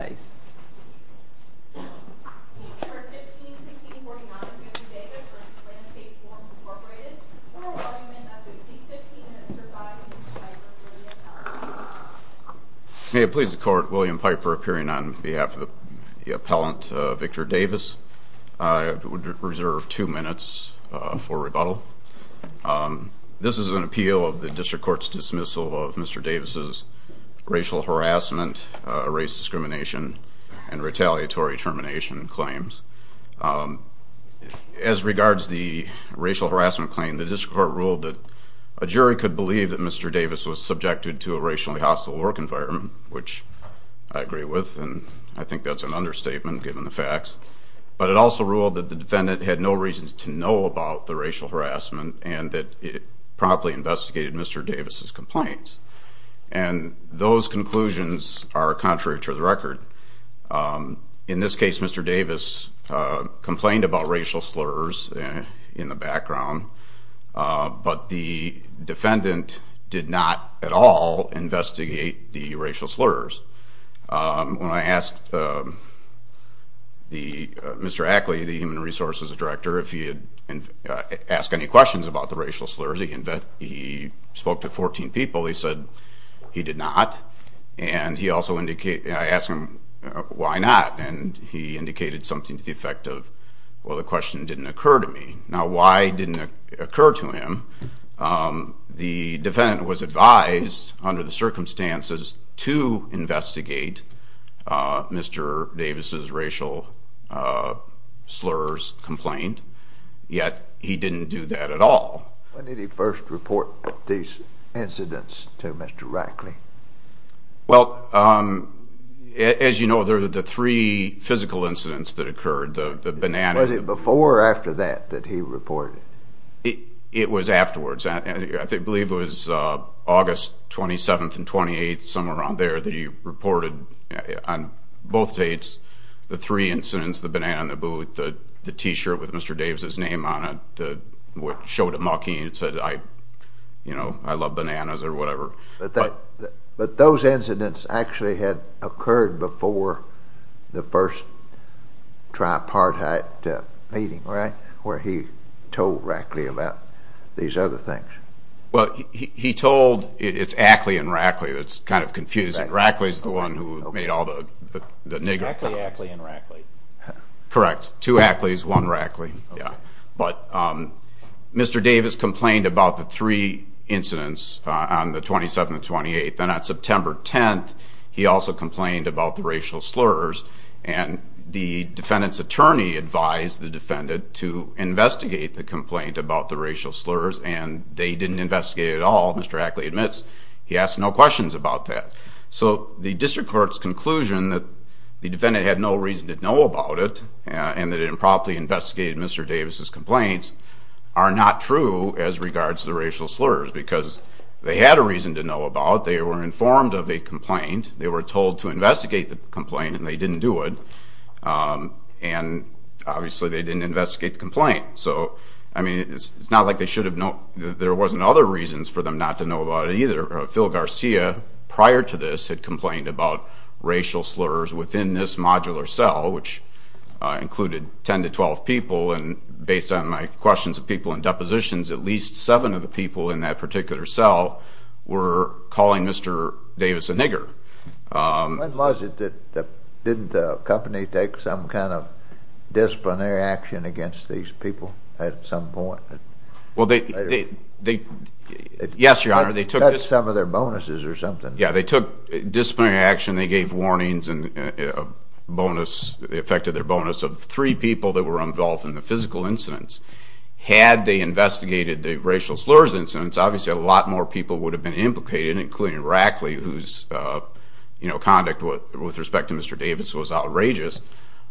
May it please the court, William Piper appearing on behalf of the appellant Victor Davis. I would reserve two minutes for rebuttal. This is an appeal of the District Court's dismissal of Mr. Davis's racial harassment, race discrimination, and retaliatory termination claims. As regards the racial harassment claim, the District Court ruled that a jury could believe that Mr. Davis was subjected to a racially hostile work environment, which I agree with and I think that's an understatement given the facts, but it also ruled that the defendant had no reasons to know about the racial harassment and that it promptly investigated Mr. Davis's complaints and those conclusions are contrary to the record. In this case, Mr. Davis complained about racial slurs in the background, but the defendant did not at all investigate the racial slurs. When I asked Mr. Ackley, the Human Resources Director, if he had asked any questions about the racial slurs, he spoke to 14 people. He said he did not and I asked him why not and he indicated something to the effect of, well the question didn't occur to me. Now why didn't it occur to him? The defendant was advised under the circumstances to investigate Mr. Davis's racial slurs complaint, yet he didn't do that at all. When did he first report these incidents to Mr. Ackley? Well, as you know, there were the three physical incidents that occurred, the banana... Was it before or after that that he reported? It was afterwards. I believe it was August 27th and 28th, somewhere around there, that he reported on both dates the three incidents, the banana and the t-shirt with Mr. Davis's name on it that showed it mockingly and said, you know, I love bananas or whatever. But those incidents actually had occurred before the first tripartite meeting, right, where he told Ackley about these other things? Well, he told, it's Ackley and Rackley that's kind of confusing. Rackley's the one who made all the nigger comments. Ackley, Ackley and Rackley. Correct. Two Ackleys, one Rackley. But Mr. Davis complained about the three incidents on the 27th and 28th. Then on September 10th, he also complained about the racial slurs and the defendant's attorney advised the defendant to investigate the complaint about the racial slurs and they didn't investigate it at all, Mr. Ackley admits. He asked no questions about that. So the district court's conclusion that the defendant had no reason to know about it and that it improperly investigated Mr. Davis's complaints are not true as regards to the racial slurs because they had a reason to know about, they were informed of a complaint, they were told to investigate the complaint and they didn't do it and obviously they didn't investigate the complaint. So, I mean, it's not like they should know, there wasn't other reasons for them not to know about it either. Phil Garcia, prior to this, had complained about racial slurs within this modular cell which included 10 to 12 people and based on my questions of people in depositions, at least seven of the people in that particular cell were calling Mr. Davis a nigger. When was it that, didn't the company take some kind of Yes, your honor, they took some of their bonuses or something. Yeah, they took disciplinary action, they gave warnings and a bonus, they affected their bonus of three people that were involved in the physical incidents. Had they investigated the racial slurs incidents, obviously a lot more people would have been implicated including Rackley whose, you know, conduct with respect to Mr. Davis was outrageous.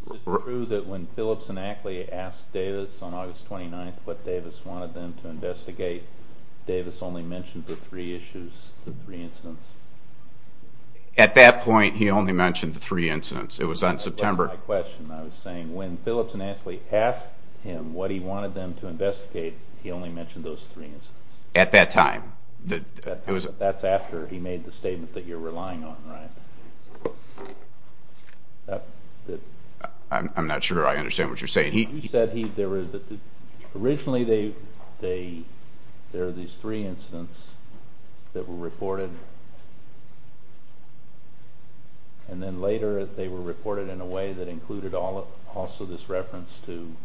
Is it true that when Phillips and Ackley asked Davis on August 29th what Davis wanted them to investigate, Davis only mentioned the three issues, the three incidents? At that point, he only mentioned the three incidents. It was on September. That's my question. I was saying when Phillips and Ackley asked him what he wanted them to investigate, he only mentioned those three incidents. At that time. That's after he made the statement that you're relying on, right? I'm not sure I understand what you're saying. You said there were, originally they, there are these three incidents that were reported and then later they were reported in a way that included also this reference to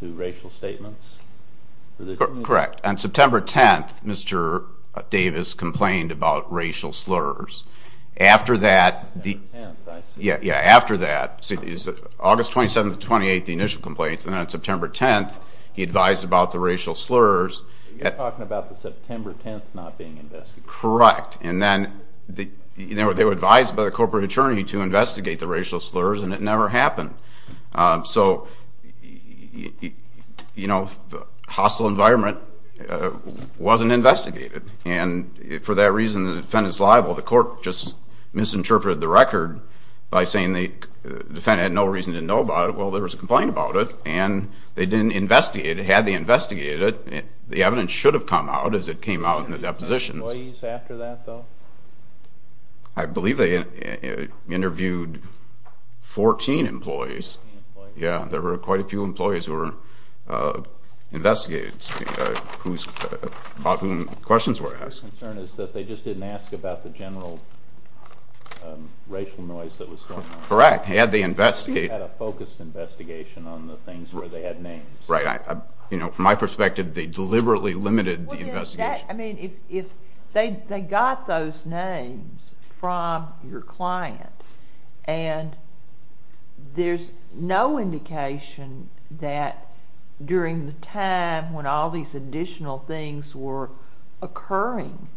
racial statements? Correct. On September 10th, Mr. Davis complained about racial slurs. After that, yeah, yeah, after that, August 27th to 28th, the initial complaints and then on September 10th, he advised about the racial slurs. You're talking about the September 10th not being investigated. Correct. And then they were advised by the corporate attorney to investigate the racial slurs and it never happened. So, you know, the hostile environment wasn't investigated. And for that reason, the defendant's liable. The court just misinterpreted the record by saying the defendant had no reason to know about it. Well, there was a complaint about it and they didn't investigate it. Had they investigated it, the evidence should have come out as it came out in the deposition. Were there any employees after that though? I believe they interviewed 14 employees. Yeah, there were quite a few employees who were investigated, about whom questions were asked. My concern is that they just didn't ask about the general racial noise that was going on. Correct. Had they investigated. They should have had a focused investigation on the things where they had names. Right. You know, from my perspective, they deliberately limited the investigation. I mean, if they got those names from your clients, and there's no indication that during the time when all these additional things were occurring,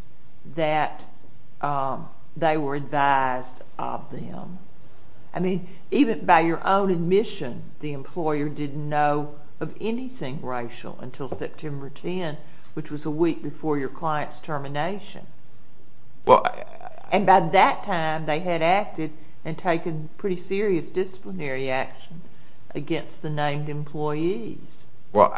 that they were advised of them. I mean, even by your own admission, the employer didn't know of anything racial until September 10, which was a week before your client's termination. And by that time, they had acted and taken pretty serious disciplinary action against the named employees. Well,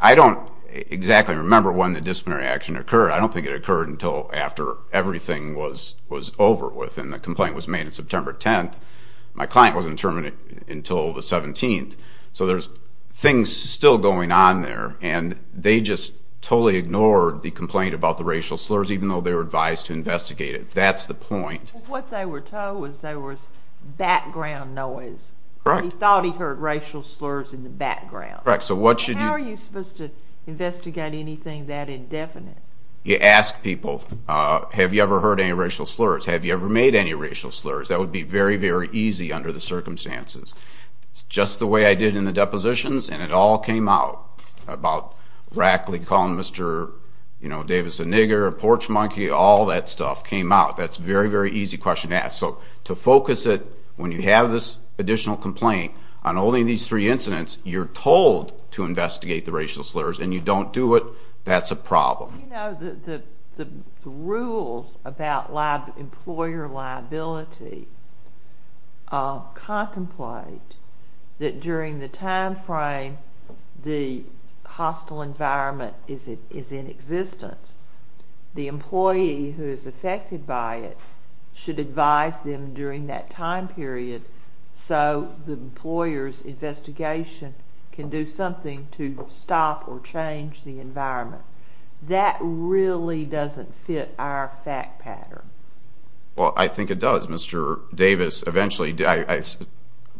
I don't exactly remember when the disciplinary action occurred. I don't think it occurred until after everything was over with. And the complaint was made on September 10. My client wasn't terminated until the 17th. So there's things still going on there. And they just totally ignored the complaint about the racial slurs, even though they were advised to investigate it. That's the point. What they were told was there was background noise. Correct. He thought he heard racial slurs in the background. Correct. So what should you... How are you supposed to investigate anything that indefinite? You ask people, have you ever heard any racial slurs? Have you ever made any racial slurs? That would be very, very easy under the circumstances. It's just the way I did in the depositions, and it all came out about Rackley calling Mr. Davis a nigger, a porch monkey, all that stuff came out. That's a very, very easy question to ask. So to focus it, when you have this additional complaint, on only these three incidents, you're told to investigate the racial slurs, and you don't do it, that's a problem. You know, the rules about employer liability contemplate that during the time frame the hostile environment is in existence. The employee who is affected by it should advise them during that time period so the employer's investigation can do something to stop or change the environment. That really doesn't fit our fact pattern. Well, I think it does. Mr. Davis eventually...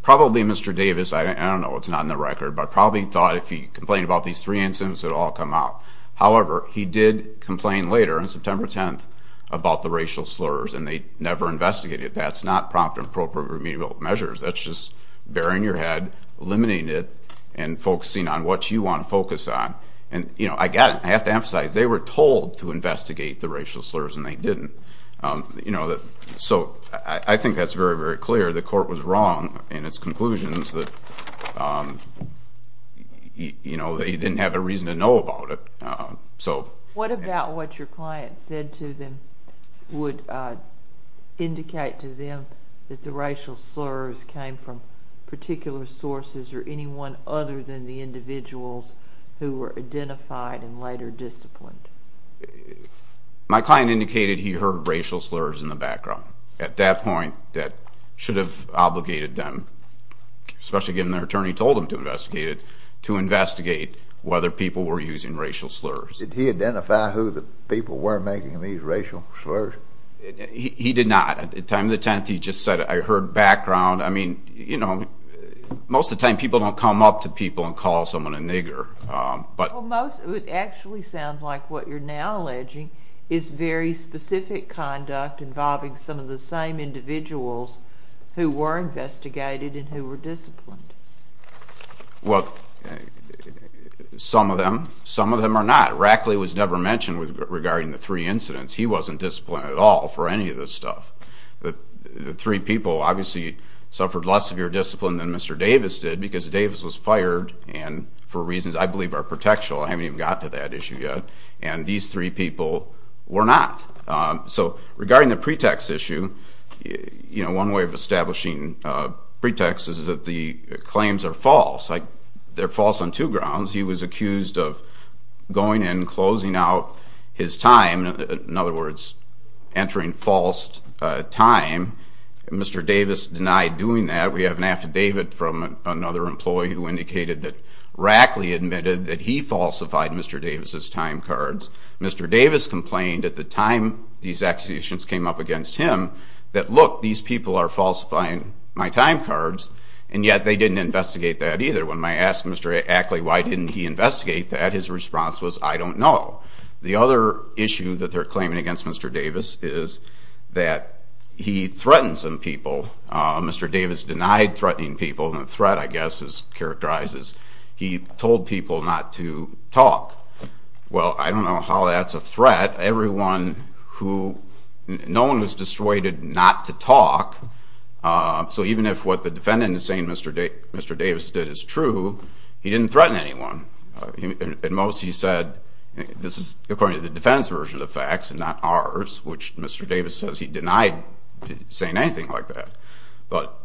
Probably Mr. Davis, I don't know, it's not in the record, but probably thought if he complained about these three incidents, it would all come out. However, he did complain later, on September 10th, about the racial slurs, and they never investigated it. That's not prompt and appropriate remedial measures. That's just baring your head, eliminating it, and focusing on what you want to focus on. I have to emphasize, they were told to investigate the racial slurs, and they didn't. I think that's very, very clear. The court was wrong in its conclusions that they didn't have a reason to know about it. What about what your client said to them would indicate to them that the racial slurs came from particular sources or anyone other than the individuals who were identified and later disciplined? My client indicated he heard racial slurs in the background. At that point, that should have obligated them, especially given their attorney told them to investigate it, to investigate whether people were using racial slurs. Did he identify who the people were making these racial slurs? He did not. At the time of the attempt, he just said, I heard background. I mean, you know, most of the time people don't come up to people and call someone a nigger. It actually sounds like what you're now alleging is very specific conduct involving some of the same individuals who were investigated and who were disciplined. Well, some of them. Some of them are not. Rackley was never mentioned regarding the three incidents. He wasn't disciplined at all for any of this stuff. The three people obviously suffered less severe discipline than Mr. Davis did because Davis was fired and for reasons I believe are protectional. I haven't even gotten to that issue yet. And these three people were not. So regarding the pretext issue, you know, one way of establishing pretext is that the claims are false. They're false on two grounds. He was accused of going and closing out his time. In other words, entering false time. Mr. Davis denied doing that. We have an affidavit from another employee who indicated that Rackley admitted that he falsified Mr. Davis's time cards. Mr. Davis complained at the time these accusations came up against him that, look, these people are falsifying my time cards. And yet they didn't investigate that either. When I asked Mr. Rackley why didn't he investigate that, his response was, I don't know. The other issue that they're claiming against Mr. Davis is that he threatens some people. Mr. Davis denied threatening people. And a threat, I guess, is characterized as he told people not to talk. Well, I don't know how that's a threat. Everyone who, no one was dissuaded not to talk. So even if what the defendant is saying Mr. Davis did is true, he didn't threaten anyone. At most he said, this is according to the defendant's version of facts and not ours, which Mr. Davis says he denied saying anything like that. But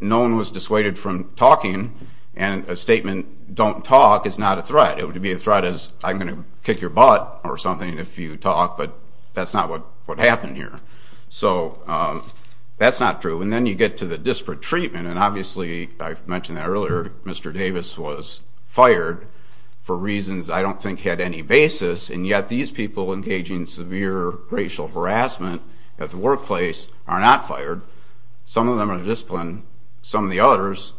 no one was dissuaded from talking, and a statement, don't talk, is not a threat. It would be a threat as I'm going to kick your butt or something if you talk, but that's not what happened here. So that's not true. And then you get to the disparate treatment. And obviously, I mentioned that earlier, Mr. Davis was fired for reasons I don't think had any basis. And yet these people engaging in severe racial harassment at the workplace are not fired. Some of them are disciplined. Some of the others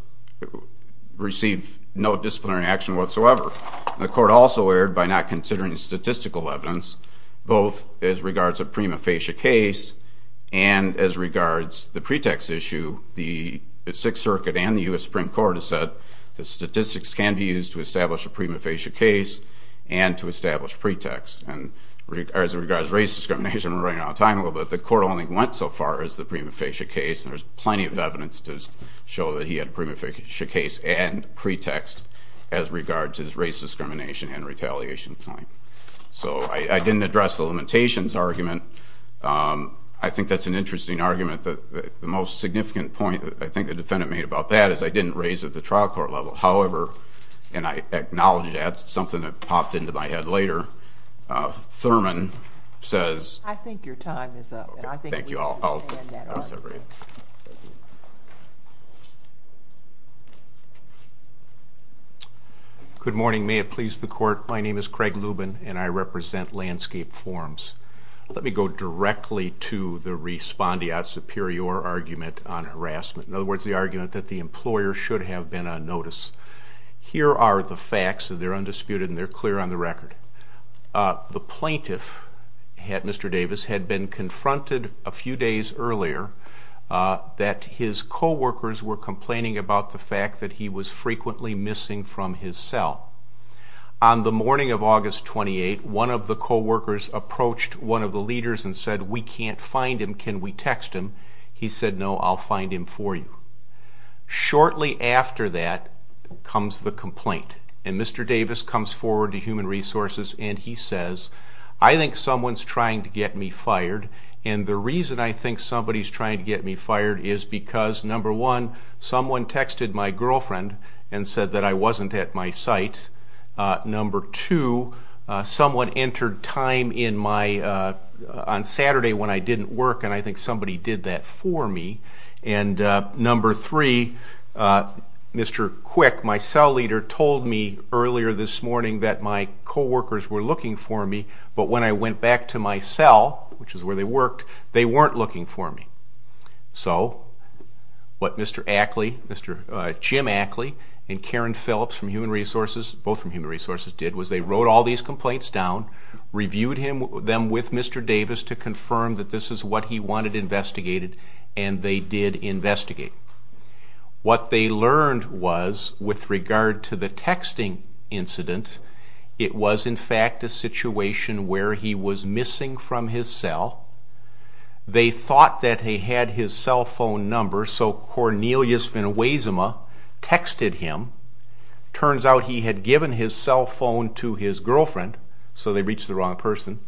receive no disciplinary action whatsoever. The court also erred by not considering statistical evidence, both as regards to prima facie case and as regards the pretext issue. The Sixth Circuit and the U.S. Supreme Court have said that statistics can be used to establish a prima facie case and to establish pretext. And as regards race discrimination, we're running out of time, but the court only went so far as the prima facie case. And there's plenty of evidence to show that he had a prima facie case and pretext as regards his race discrimination and retaliation claim. So I didn't address the limitations argument. I think that's an interesting argument. The most significant point I think the defendant made about that is I didn't raise at the trial court level. However, and I acknowledge that. That's something that popped into my head later. Thurman says – I think your time is up. Thank you. Good morning. May it please the court. My name is Craig Lubin, and I represent Landscape Forms. Let me go directly to the respondeat superior argument on harassment. In other words, the argument that the employer should have been on notice. Here are the facts. They're undisputed and they're clear on the record. The plaintiff, Mr. Davis, had been confronted a few days earlier that his co-workers were complaining about the fact that he was frequently missing from his cell. On the morning of August 28, one of the co-workers approached one of the leaders and said, We can't find him. Can we text him? He said, No, I'll find him for you. Shortly after that comes the complaint. And Mr. Davis comes forward to Human Resources and he says, I think someone's trying to get me fired. And the reason I think somebody's trying to get me fired is because, number one, someone texted my girlfriend and said that I wasn't at my site. Number two, someone entered time on Saturday when I didn't work, and I think somebody did that for me. And number three, Mr. Quick, my cell leader, told me earlier this morning that my co-workers were looking for me, but when I went back to my cell, which is where they worked, they weren't looking for me. So what Mr. Ackley, Jim Ackley, and Karen Phillips from Human Resources, both from Human Resources, did was they wrote all these complaints down, reviewed them with Mr. Davis to confirm that this is what he wanted investigated, and they did investigate. What they learned was, with regard to the texting incident, it was, in fact, a situation where he was missing from his cell. They thought that he had his cell phone number, so Cornelius Van Wezema texted him. Turns out he had given his cell phone to his girlfriend, so they reached the wrong person.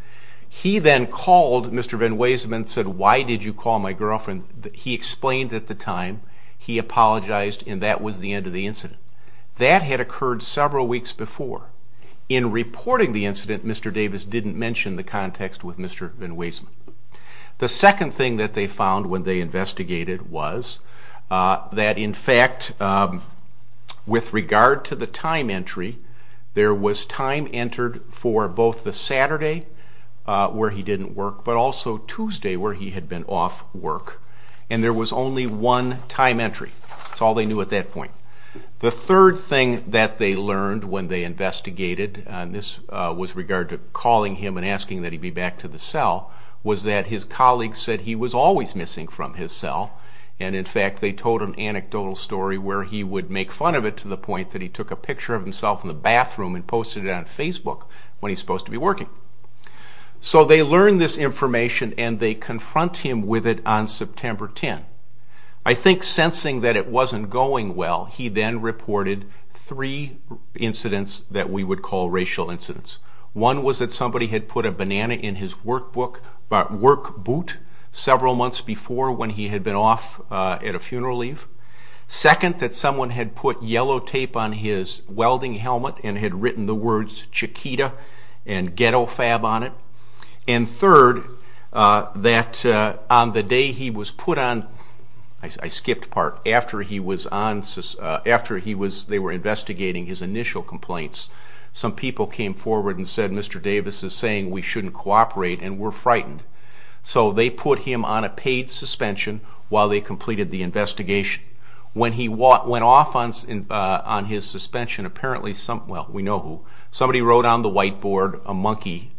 He then called Mr. Van Wezema and said, why did you call my girlfriend? He explained at the time he apologized, and that was the end of the incident. That had occurred several weeks before. In reporting the incident, Mr. Davis didn't mention the context with Mr. Van Wezema. The second thing that they found when they investigated was that, in fact, with regard to the time entry, there was time entered for both the Saturday where he didn't work, but also Tuesday where he had been off work, and there was only one time entry. That's all they knew at that point. The third thing that they learned when they investigated, and this was with regard to calling him and asking that he be back to the cell, was that his colleagues said he was always missing from his cell, and, in fact, they told an anecdotal story where he would make fun of it to the point that he took a picture of himself in the bathroom and posted it on Facebook when he's supposed to be working. So they learned this information, and they confront him with it on September 10. I think sensing that it wasn't going well, he then reported three incidents that we would call racial incidents. One was that somebody had put a banana in his work boot several months before when he had been off at a funeral leave. Second, that someone had put yellow tape on his welding helmet and had written the words Chiquita and Ghetto Fab on it. And third, that on the day he was put on, I skipped part, after they were investigating his initial complaints, some people came forward and said Mr. Davis is saying we shouldn't cooperate and were frightened. So they put him on a paid suspension while they completed the investigation. When he went off on his suspension, apparently some, well, we know who, somebody wrote on the whiteboard a monkey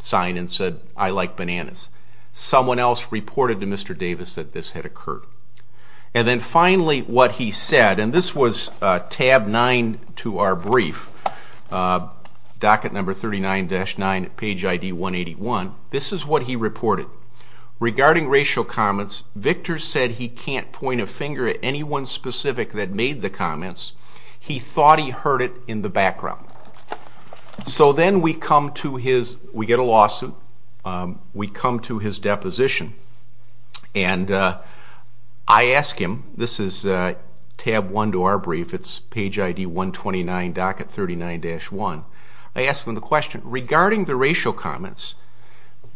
sign and said I like bananas. Someone else reported to Mr. Davis that this had occurred. And then finally what he said, and this was tab 9 to our brief, docket number 39-9, page ID 181. This is what he reported. Regarding racial comments, Victor said he can't point a finger at anyone specific that made the comments. He thought he heard it in the background. So then we come to his, we get a lawsuit, we come to his deposition. And I ask him, this is tab 1 to our brief, it's page ID 129, docket 39-1. I ask him the question, regarding the racial comments,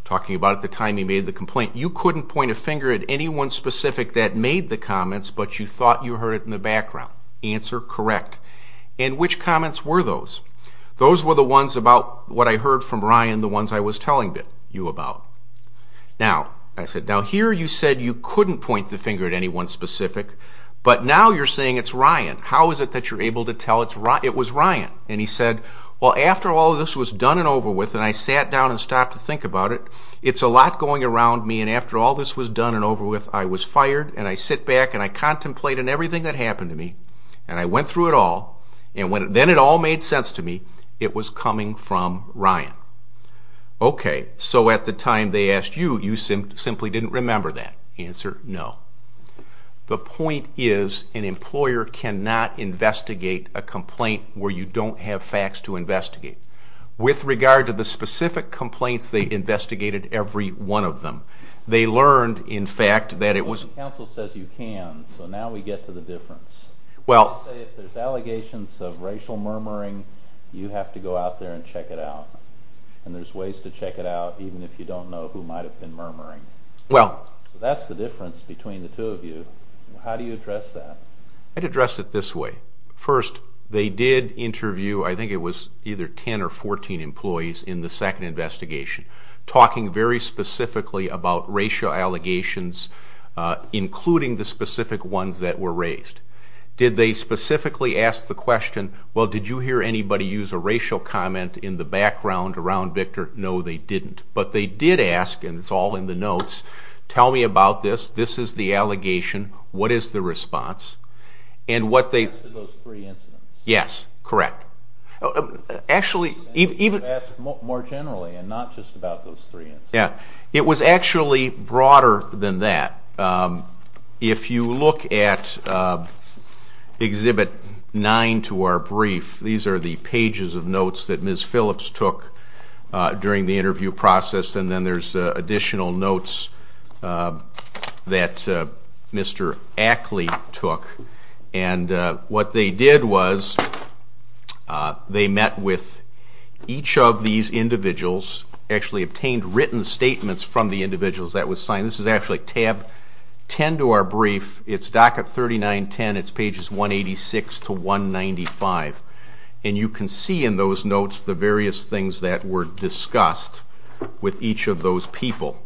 talking about the time he made the complaint, you couldn't point a finger at anyone specific that made the comments but you thought you heard it in the background. Answer, correct. And which comments were those? Those were the ones about what I heard from Ryan, the ones I was telling you about. Now, I said, now here you said you couldn't point the finger at anyone specific, but now you're saying it's Ryan. How is it that you're able to tell it was Ryan? And he said, well, after all this was done and over with and I sat down and stopped to think about it, it's a lot going around me and after all this was done and over with, I was fired and I sit back and I contemplate on everything that happened to me and I went through it all and then it all made sense to me, it was coming from Ryan. Okay, so at the time they asked you, you simply didn't remember that. Answer, no. The point is an employer cannot investigate a complaint where you don't have facts to investigate. With regard to the specific complaints, they investigated every one of them. They learned, in fact, that it was... Counsel says you can, so now we get to the difference. Well... They say if there's allegations of racial murmuring, you have to go out there and check it out. And there's ways to check it out even if you don't know who might have been murmuring. Well... So that's the difference between the two of you. How do you address that? I'd address it this way. First, they did interview, I think it was either 10 or 14 employees in the second investigation, talking very specifically about racial allegations, including the specific ones that were raised. Did they specifically ask the question, well, did you hear anybody use a racial comment in the background around Victor? No, they didn't. But they did ask, and it's all in the notes, tell me about this, this is the allegation, what is the response, and what they... Answer those three incidents. Yes, correct. Actually, even... It was actually broader than that. If you look at Exhibit 9 to our brief, these are the pages of notes that Ms. Phillips took during the interview process, and then there's additional notes that Mr. Ackley took. And what they did was they met with each of these individuals, actually obtained written statements from the individuals that was signed. This is actually Tab 10 to our brief. It's docket 3910. It's pages 186 to 195. And you can see in those notes the various things that were discussed with each of those people.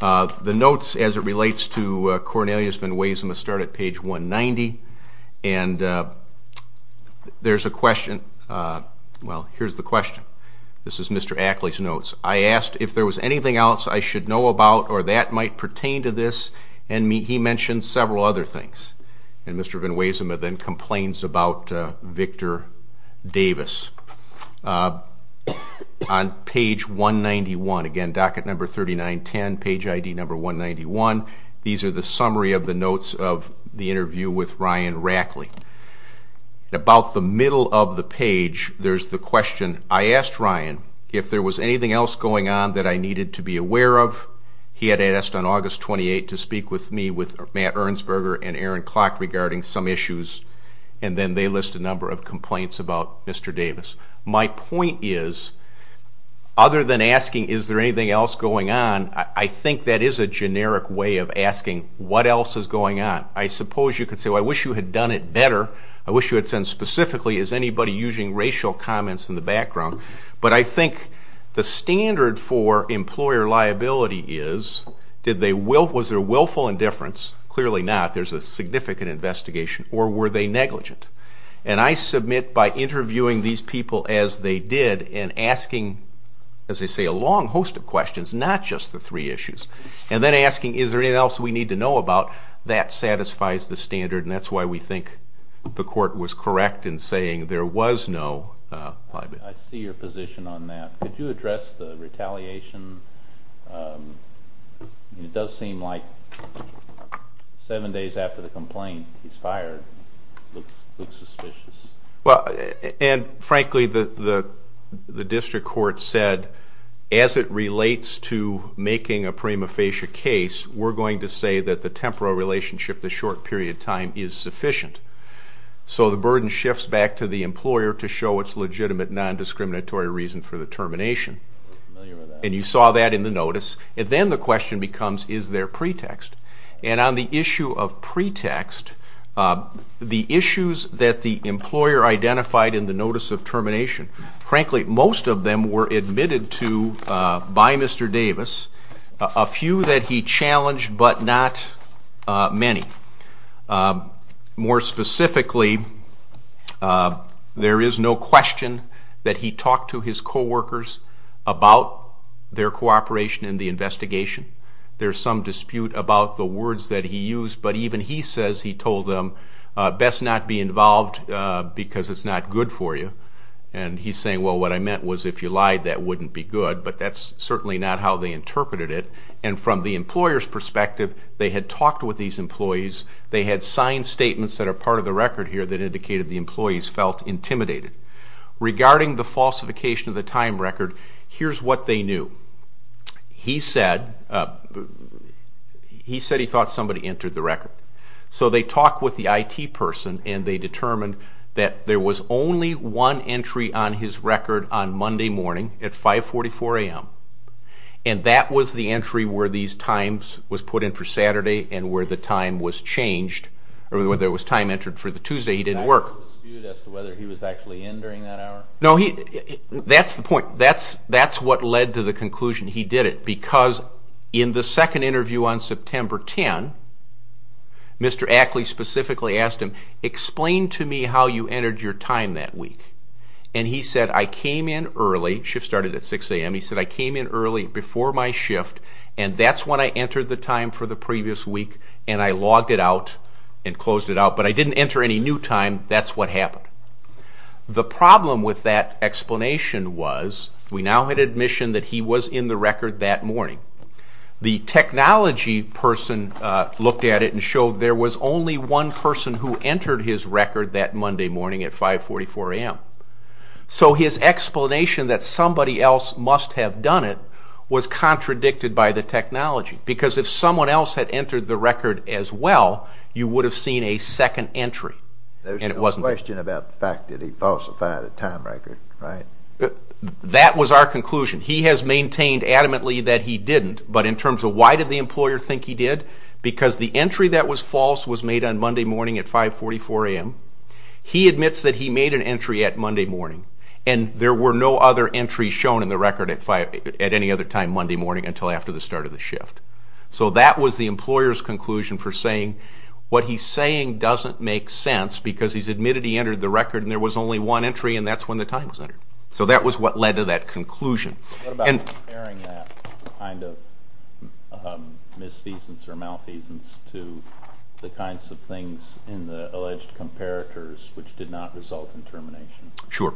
The notes, as it relates to Cornelius Van Weesema, start at page 190. And there's a question. Well, here's the question. This is Mr. Ackley's notes. I asked if there was anything else I should know about or that might pertain to this, and he mentioned several other things. And Mr. Van Weesema then complains about Victor Davis. On page 191, again, docket number 3910, page ID number 191, these are the summary of the notes of the interview with Ryan Rackley. About the middle of the page, there's the question, I asked Ryan if there was anything else going on that I needed to be aware of. He had asked on August 28th to speak with me with Matt Ernstberger and Aaron Klock regarding some issues, and then they list a number of complaints about Mr. Davis. My point is, other than asking is there anything else going on, I think that is a generic way of asking what else is going on. I suppose you could say, well, I wish you had done it better. I wish you had said specifically, is anybody using racial comments in the background? But I think the standard for employer liability is, was there willful indifference? Clearly not. There's a significant investigation. Or were they negligent? And I submit by interviewing these people as they did and asking, as they say, a long host of questions, not just the three issues, and then asking is there anything else we need to know about, that satisfies the standard, and that's why we think the court was correct in saying there was no liability. I see your position on that. Could you address the retaliation? It does seem like seven days after the complaint, he's fired. It looks suspicious. And, frankly, the district court said, as it relates to making a prima facie case, we're going to say that the temporal relationship, the short period of time, is sufficient. So the burden shifts back to the employer to show its legitimate non-discriminatory reason for the termination. And you saw that in the notice. And then the question becomes, is there pretext? And on the issue of pretext, the issues that the employer identified in the notice of termination, frankly, most of them were admitted to by Mr. Davis. A few that he challenged, but not many. More specifically, there is no question that he talked to his coworkers about their cooperation in the investigation. There's some dispute about the words that he used, but even he says he told them, best not be involved because it's not good for you. And he's saying, well, what I meant was if you lied, that wouldn't be good. But that's certainly not how they interpreted it. And from the employer's perspective, they had talked with these employees. They had signed statements that are part of the record here that indicated the employees felt intimidated. Regarding the falsification of the time record, here's what they knew. He said he thought somebody entered the record. So they talked with the IT person, and they determined that there was only one entry on his record on Monday morning at 544 a.m., and that was the entry where these times was put in for Saturday and where the time was changed, or where there was time entered for the Tuesday. He didn't work. Was there a dispute as to whether he was actually in during that hour? No, that's the point. That's what led to the conclusion he did it because in the second interview on September 10, Mr. Ackley specifically asked him, explain to me how you entered your time that week. And he said, I came in early. Shift started at 6 a.m. He said, I came in early before my shift, and that's when I entered the time for the previous week, and I logged it out and closed it out. But I didn't enter any new time. That's what happened. The problem with that explanation was we now had admission that he was in the record that morning. The technology person looked at it and showed there was only one person who entered his record that Monday morning at 544 a.m. So his explanation that somebody else must have done it was contradicted by the technology because if someone else had entered the record as well, you would have seen a second entry. There's no question about the fact that he falsified a time record, right? That was our conclusion. He has maintained adamantly that he didn't, but in terms of why did the employer think he did? Because the entry that was false was made on Monday morning at 544 a.m. He admits that he made an entry at Monday morning, and there were no other entries shown in the record at any other time Monday morning until after the start of the shift. So that was the employer's conclusion for saying what he's saying doesn't make sense because he's admitted he entered the record and there was only one entry, and that's when the time was entered. So that was what led to that conclusion. What about comparing that kind of misfeasance or malfeasance to the kinds of things in the alleged comparators which did not result in termination? Sure.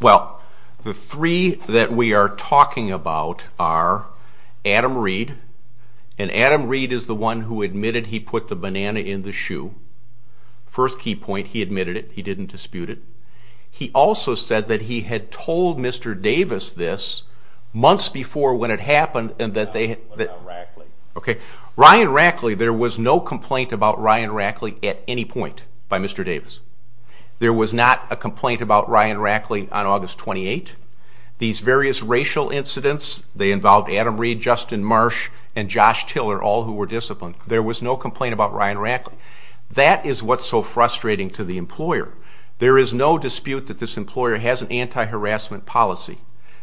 Well, the three that we are talking about are Adam Reed, and Adam Reed is the one who admitted he put the banana in the shoe. First key point, he admitted it. He didn't dispute it. He also said that he had told Mr. Davis this months before when it happened. What about Rackley? Okay. Ryan Rackley, there was no complaint about Ryan Rackley at any point by Mr. Davis. There was not a complaint about Ryan Rackley on August 28. These various racial incidents, they involved Adam Reed, Justin Marsh, and Josh Tiller, all who were disciplined. There was no complaint about Ryan Rackley. That is what's so frustrating to the employer. There is no dispute that this employer has an anti-harassment policy.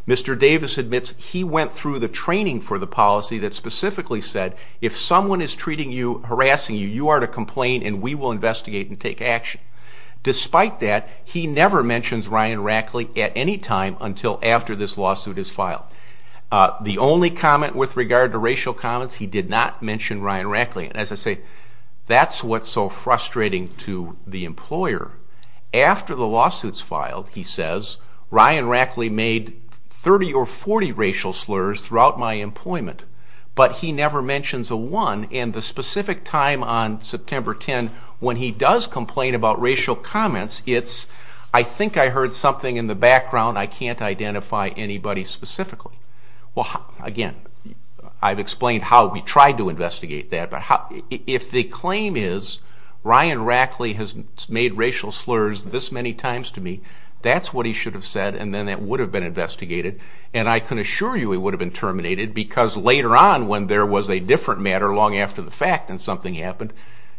Mr. Davis admits he went through the training for the policy that specifically said, if someone is treating you, harassing you, you are to complain, and we will investigate and take action. Despite that, he never mentions Ryan Rackley at any time until after this lawsuit is filed. The only comment with regard to racial comments, he did not mention Ryan Rackley. And as I say, that's what's so frustrating to the employer. After the lawsuit's filed, he says, Ryan Rackley made 30 or 40 racial slurs throughout my employment, but he never mentions a one, and the specific time on September 10, when he does complain about racial comments, it's, I think I heard something in the background, I can't identify anybody specifically. Well, again, I've explained how we tried to investigate that, but if the claim is, Ryan Rackley has made racial slurs this many times to me, that's what he should have said, and then that would have been investigated, and I can assure you he would have been terminated, because later on when there was a different matter long after the fact and something happened,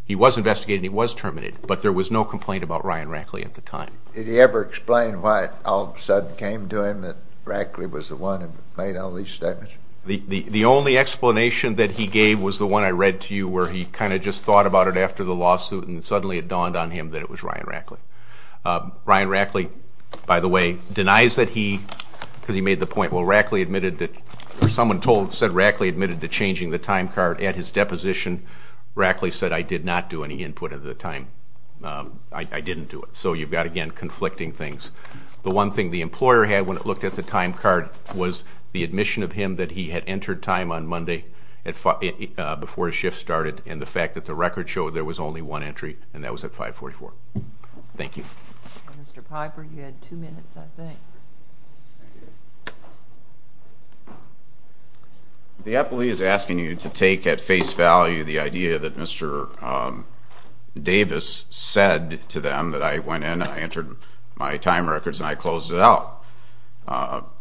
he was investigated and he was terminated, but there was no complaint about Ryan Rackley at the time. Did he ever explain why it all of a sudden came to him that Rackley was the one who made all these statements? The only explanation that he gave was the one I read to you, where he kind of just thought about it after the lawsuit, and suddenly it dawned on him that it was Ryan Rackley. Ryan Rackley, by the way, denies that he, because he made the point, well, Rackley admitted that, or someone said Rackley admitted to changing the time card at his deposition, Rackley said, I did not do any input at the time, I didn't do it. So you've got, again, conflicting things. The one thing the employer had when it looked at the time card was the admission of him that he had entered time on Monday before his shift started, and the fact that the record showed there was only one entry, and that was at 544. Thank you. Mr. Piper, you had two minutes, I think. The appellee is asking you to take at face value the idea that Mr. Davis said to them that I went in, I entered my time records, and I closed it out.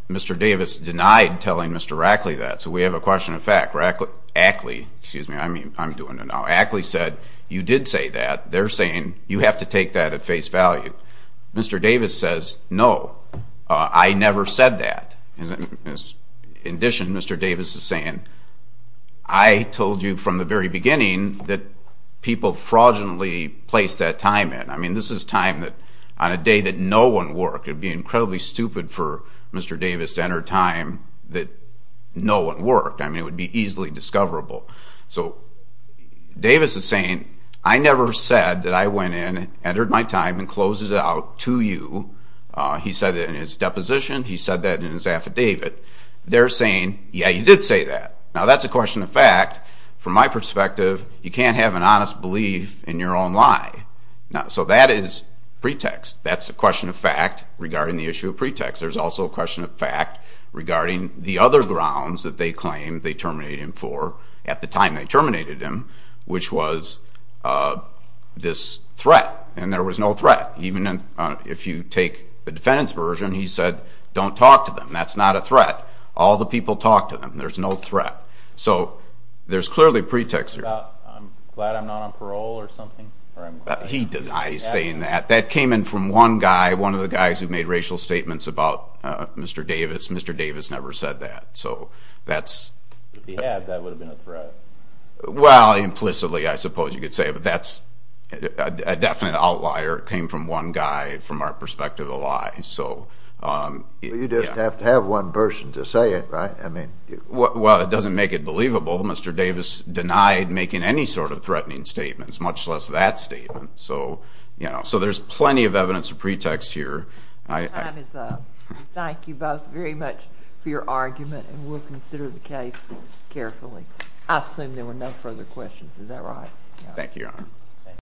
Mr. Davis denied telling Mr. Rackley that, so we have a question of fact. Rackley, excuse me, I'm doing it now. Rackley said, you did say that. They're saying you have to take that at face value. Mr. Davis says, no, I never said that. In addition, Mr. Davis is saying, I told you from the very beginning that people fraudulently placed that time in. I mean, this is time on a day that no one worked. It would be incredibly stupid for Mr. Davis to enter time that no one worked. I mean, it would be easily discoverable. So Davis is saying, I never said that I went in, entered my time, and closed it out to you. He said that in his deposition. He said that in his affidavit. They're saying, yeah, you did say that. Now, that's a question of fact. From my perspective, you can't have an honest belief in your own lie. So that is pretext. That's a question of fact regarding the issue of pretext. There's also a question of fact regarding the other grounds that they claimed they terminated him for at the time they terminated him, which was this threat. And there was no threat. Even if you take the defendant's version, he said, don't talk to them. That's not a threat. All the people talked to them. There's no threat. So there's clearly a pretext here. I'm glad I'm not on parole or something. He denies saying that. That came in from one guy, one of the guys who made racial statements about Mr. Davis. Mr. Davis never said that. If he had, that would have been a threat. Well, implicitly, I suppose you could say. But that's a definite outlier. It came from one guy from our perspective of a lie. You just have to have one person to say it, right? Well, it doesn't make it believable. Mr. Davis denied making any sort of threatening statements, much less that statement. So there's plenty of evidence of pretext here. Thank you both very much for your argument, and we'll consider the case carefully. I assume there were no further questions. Thank you, Your Honor.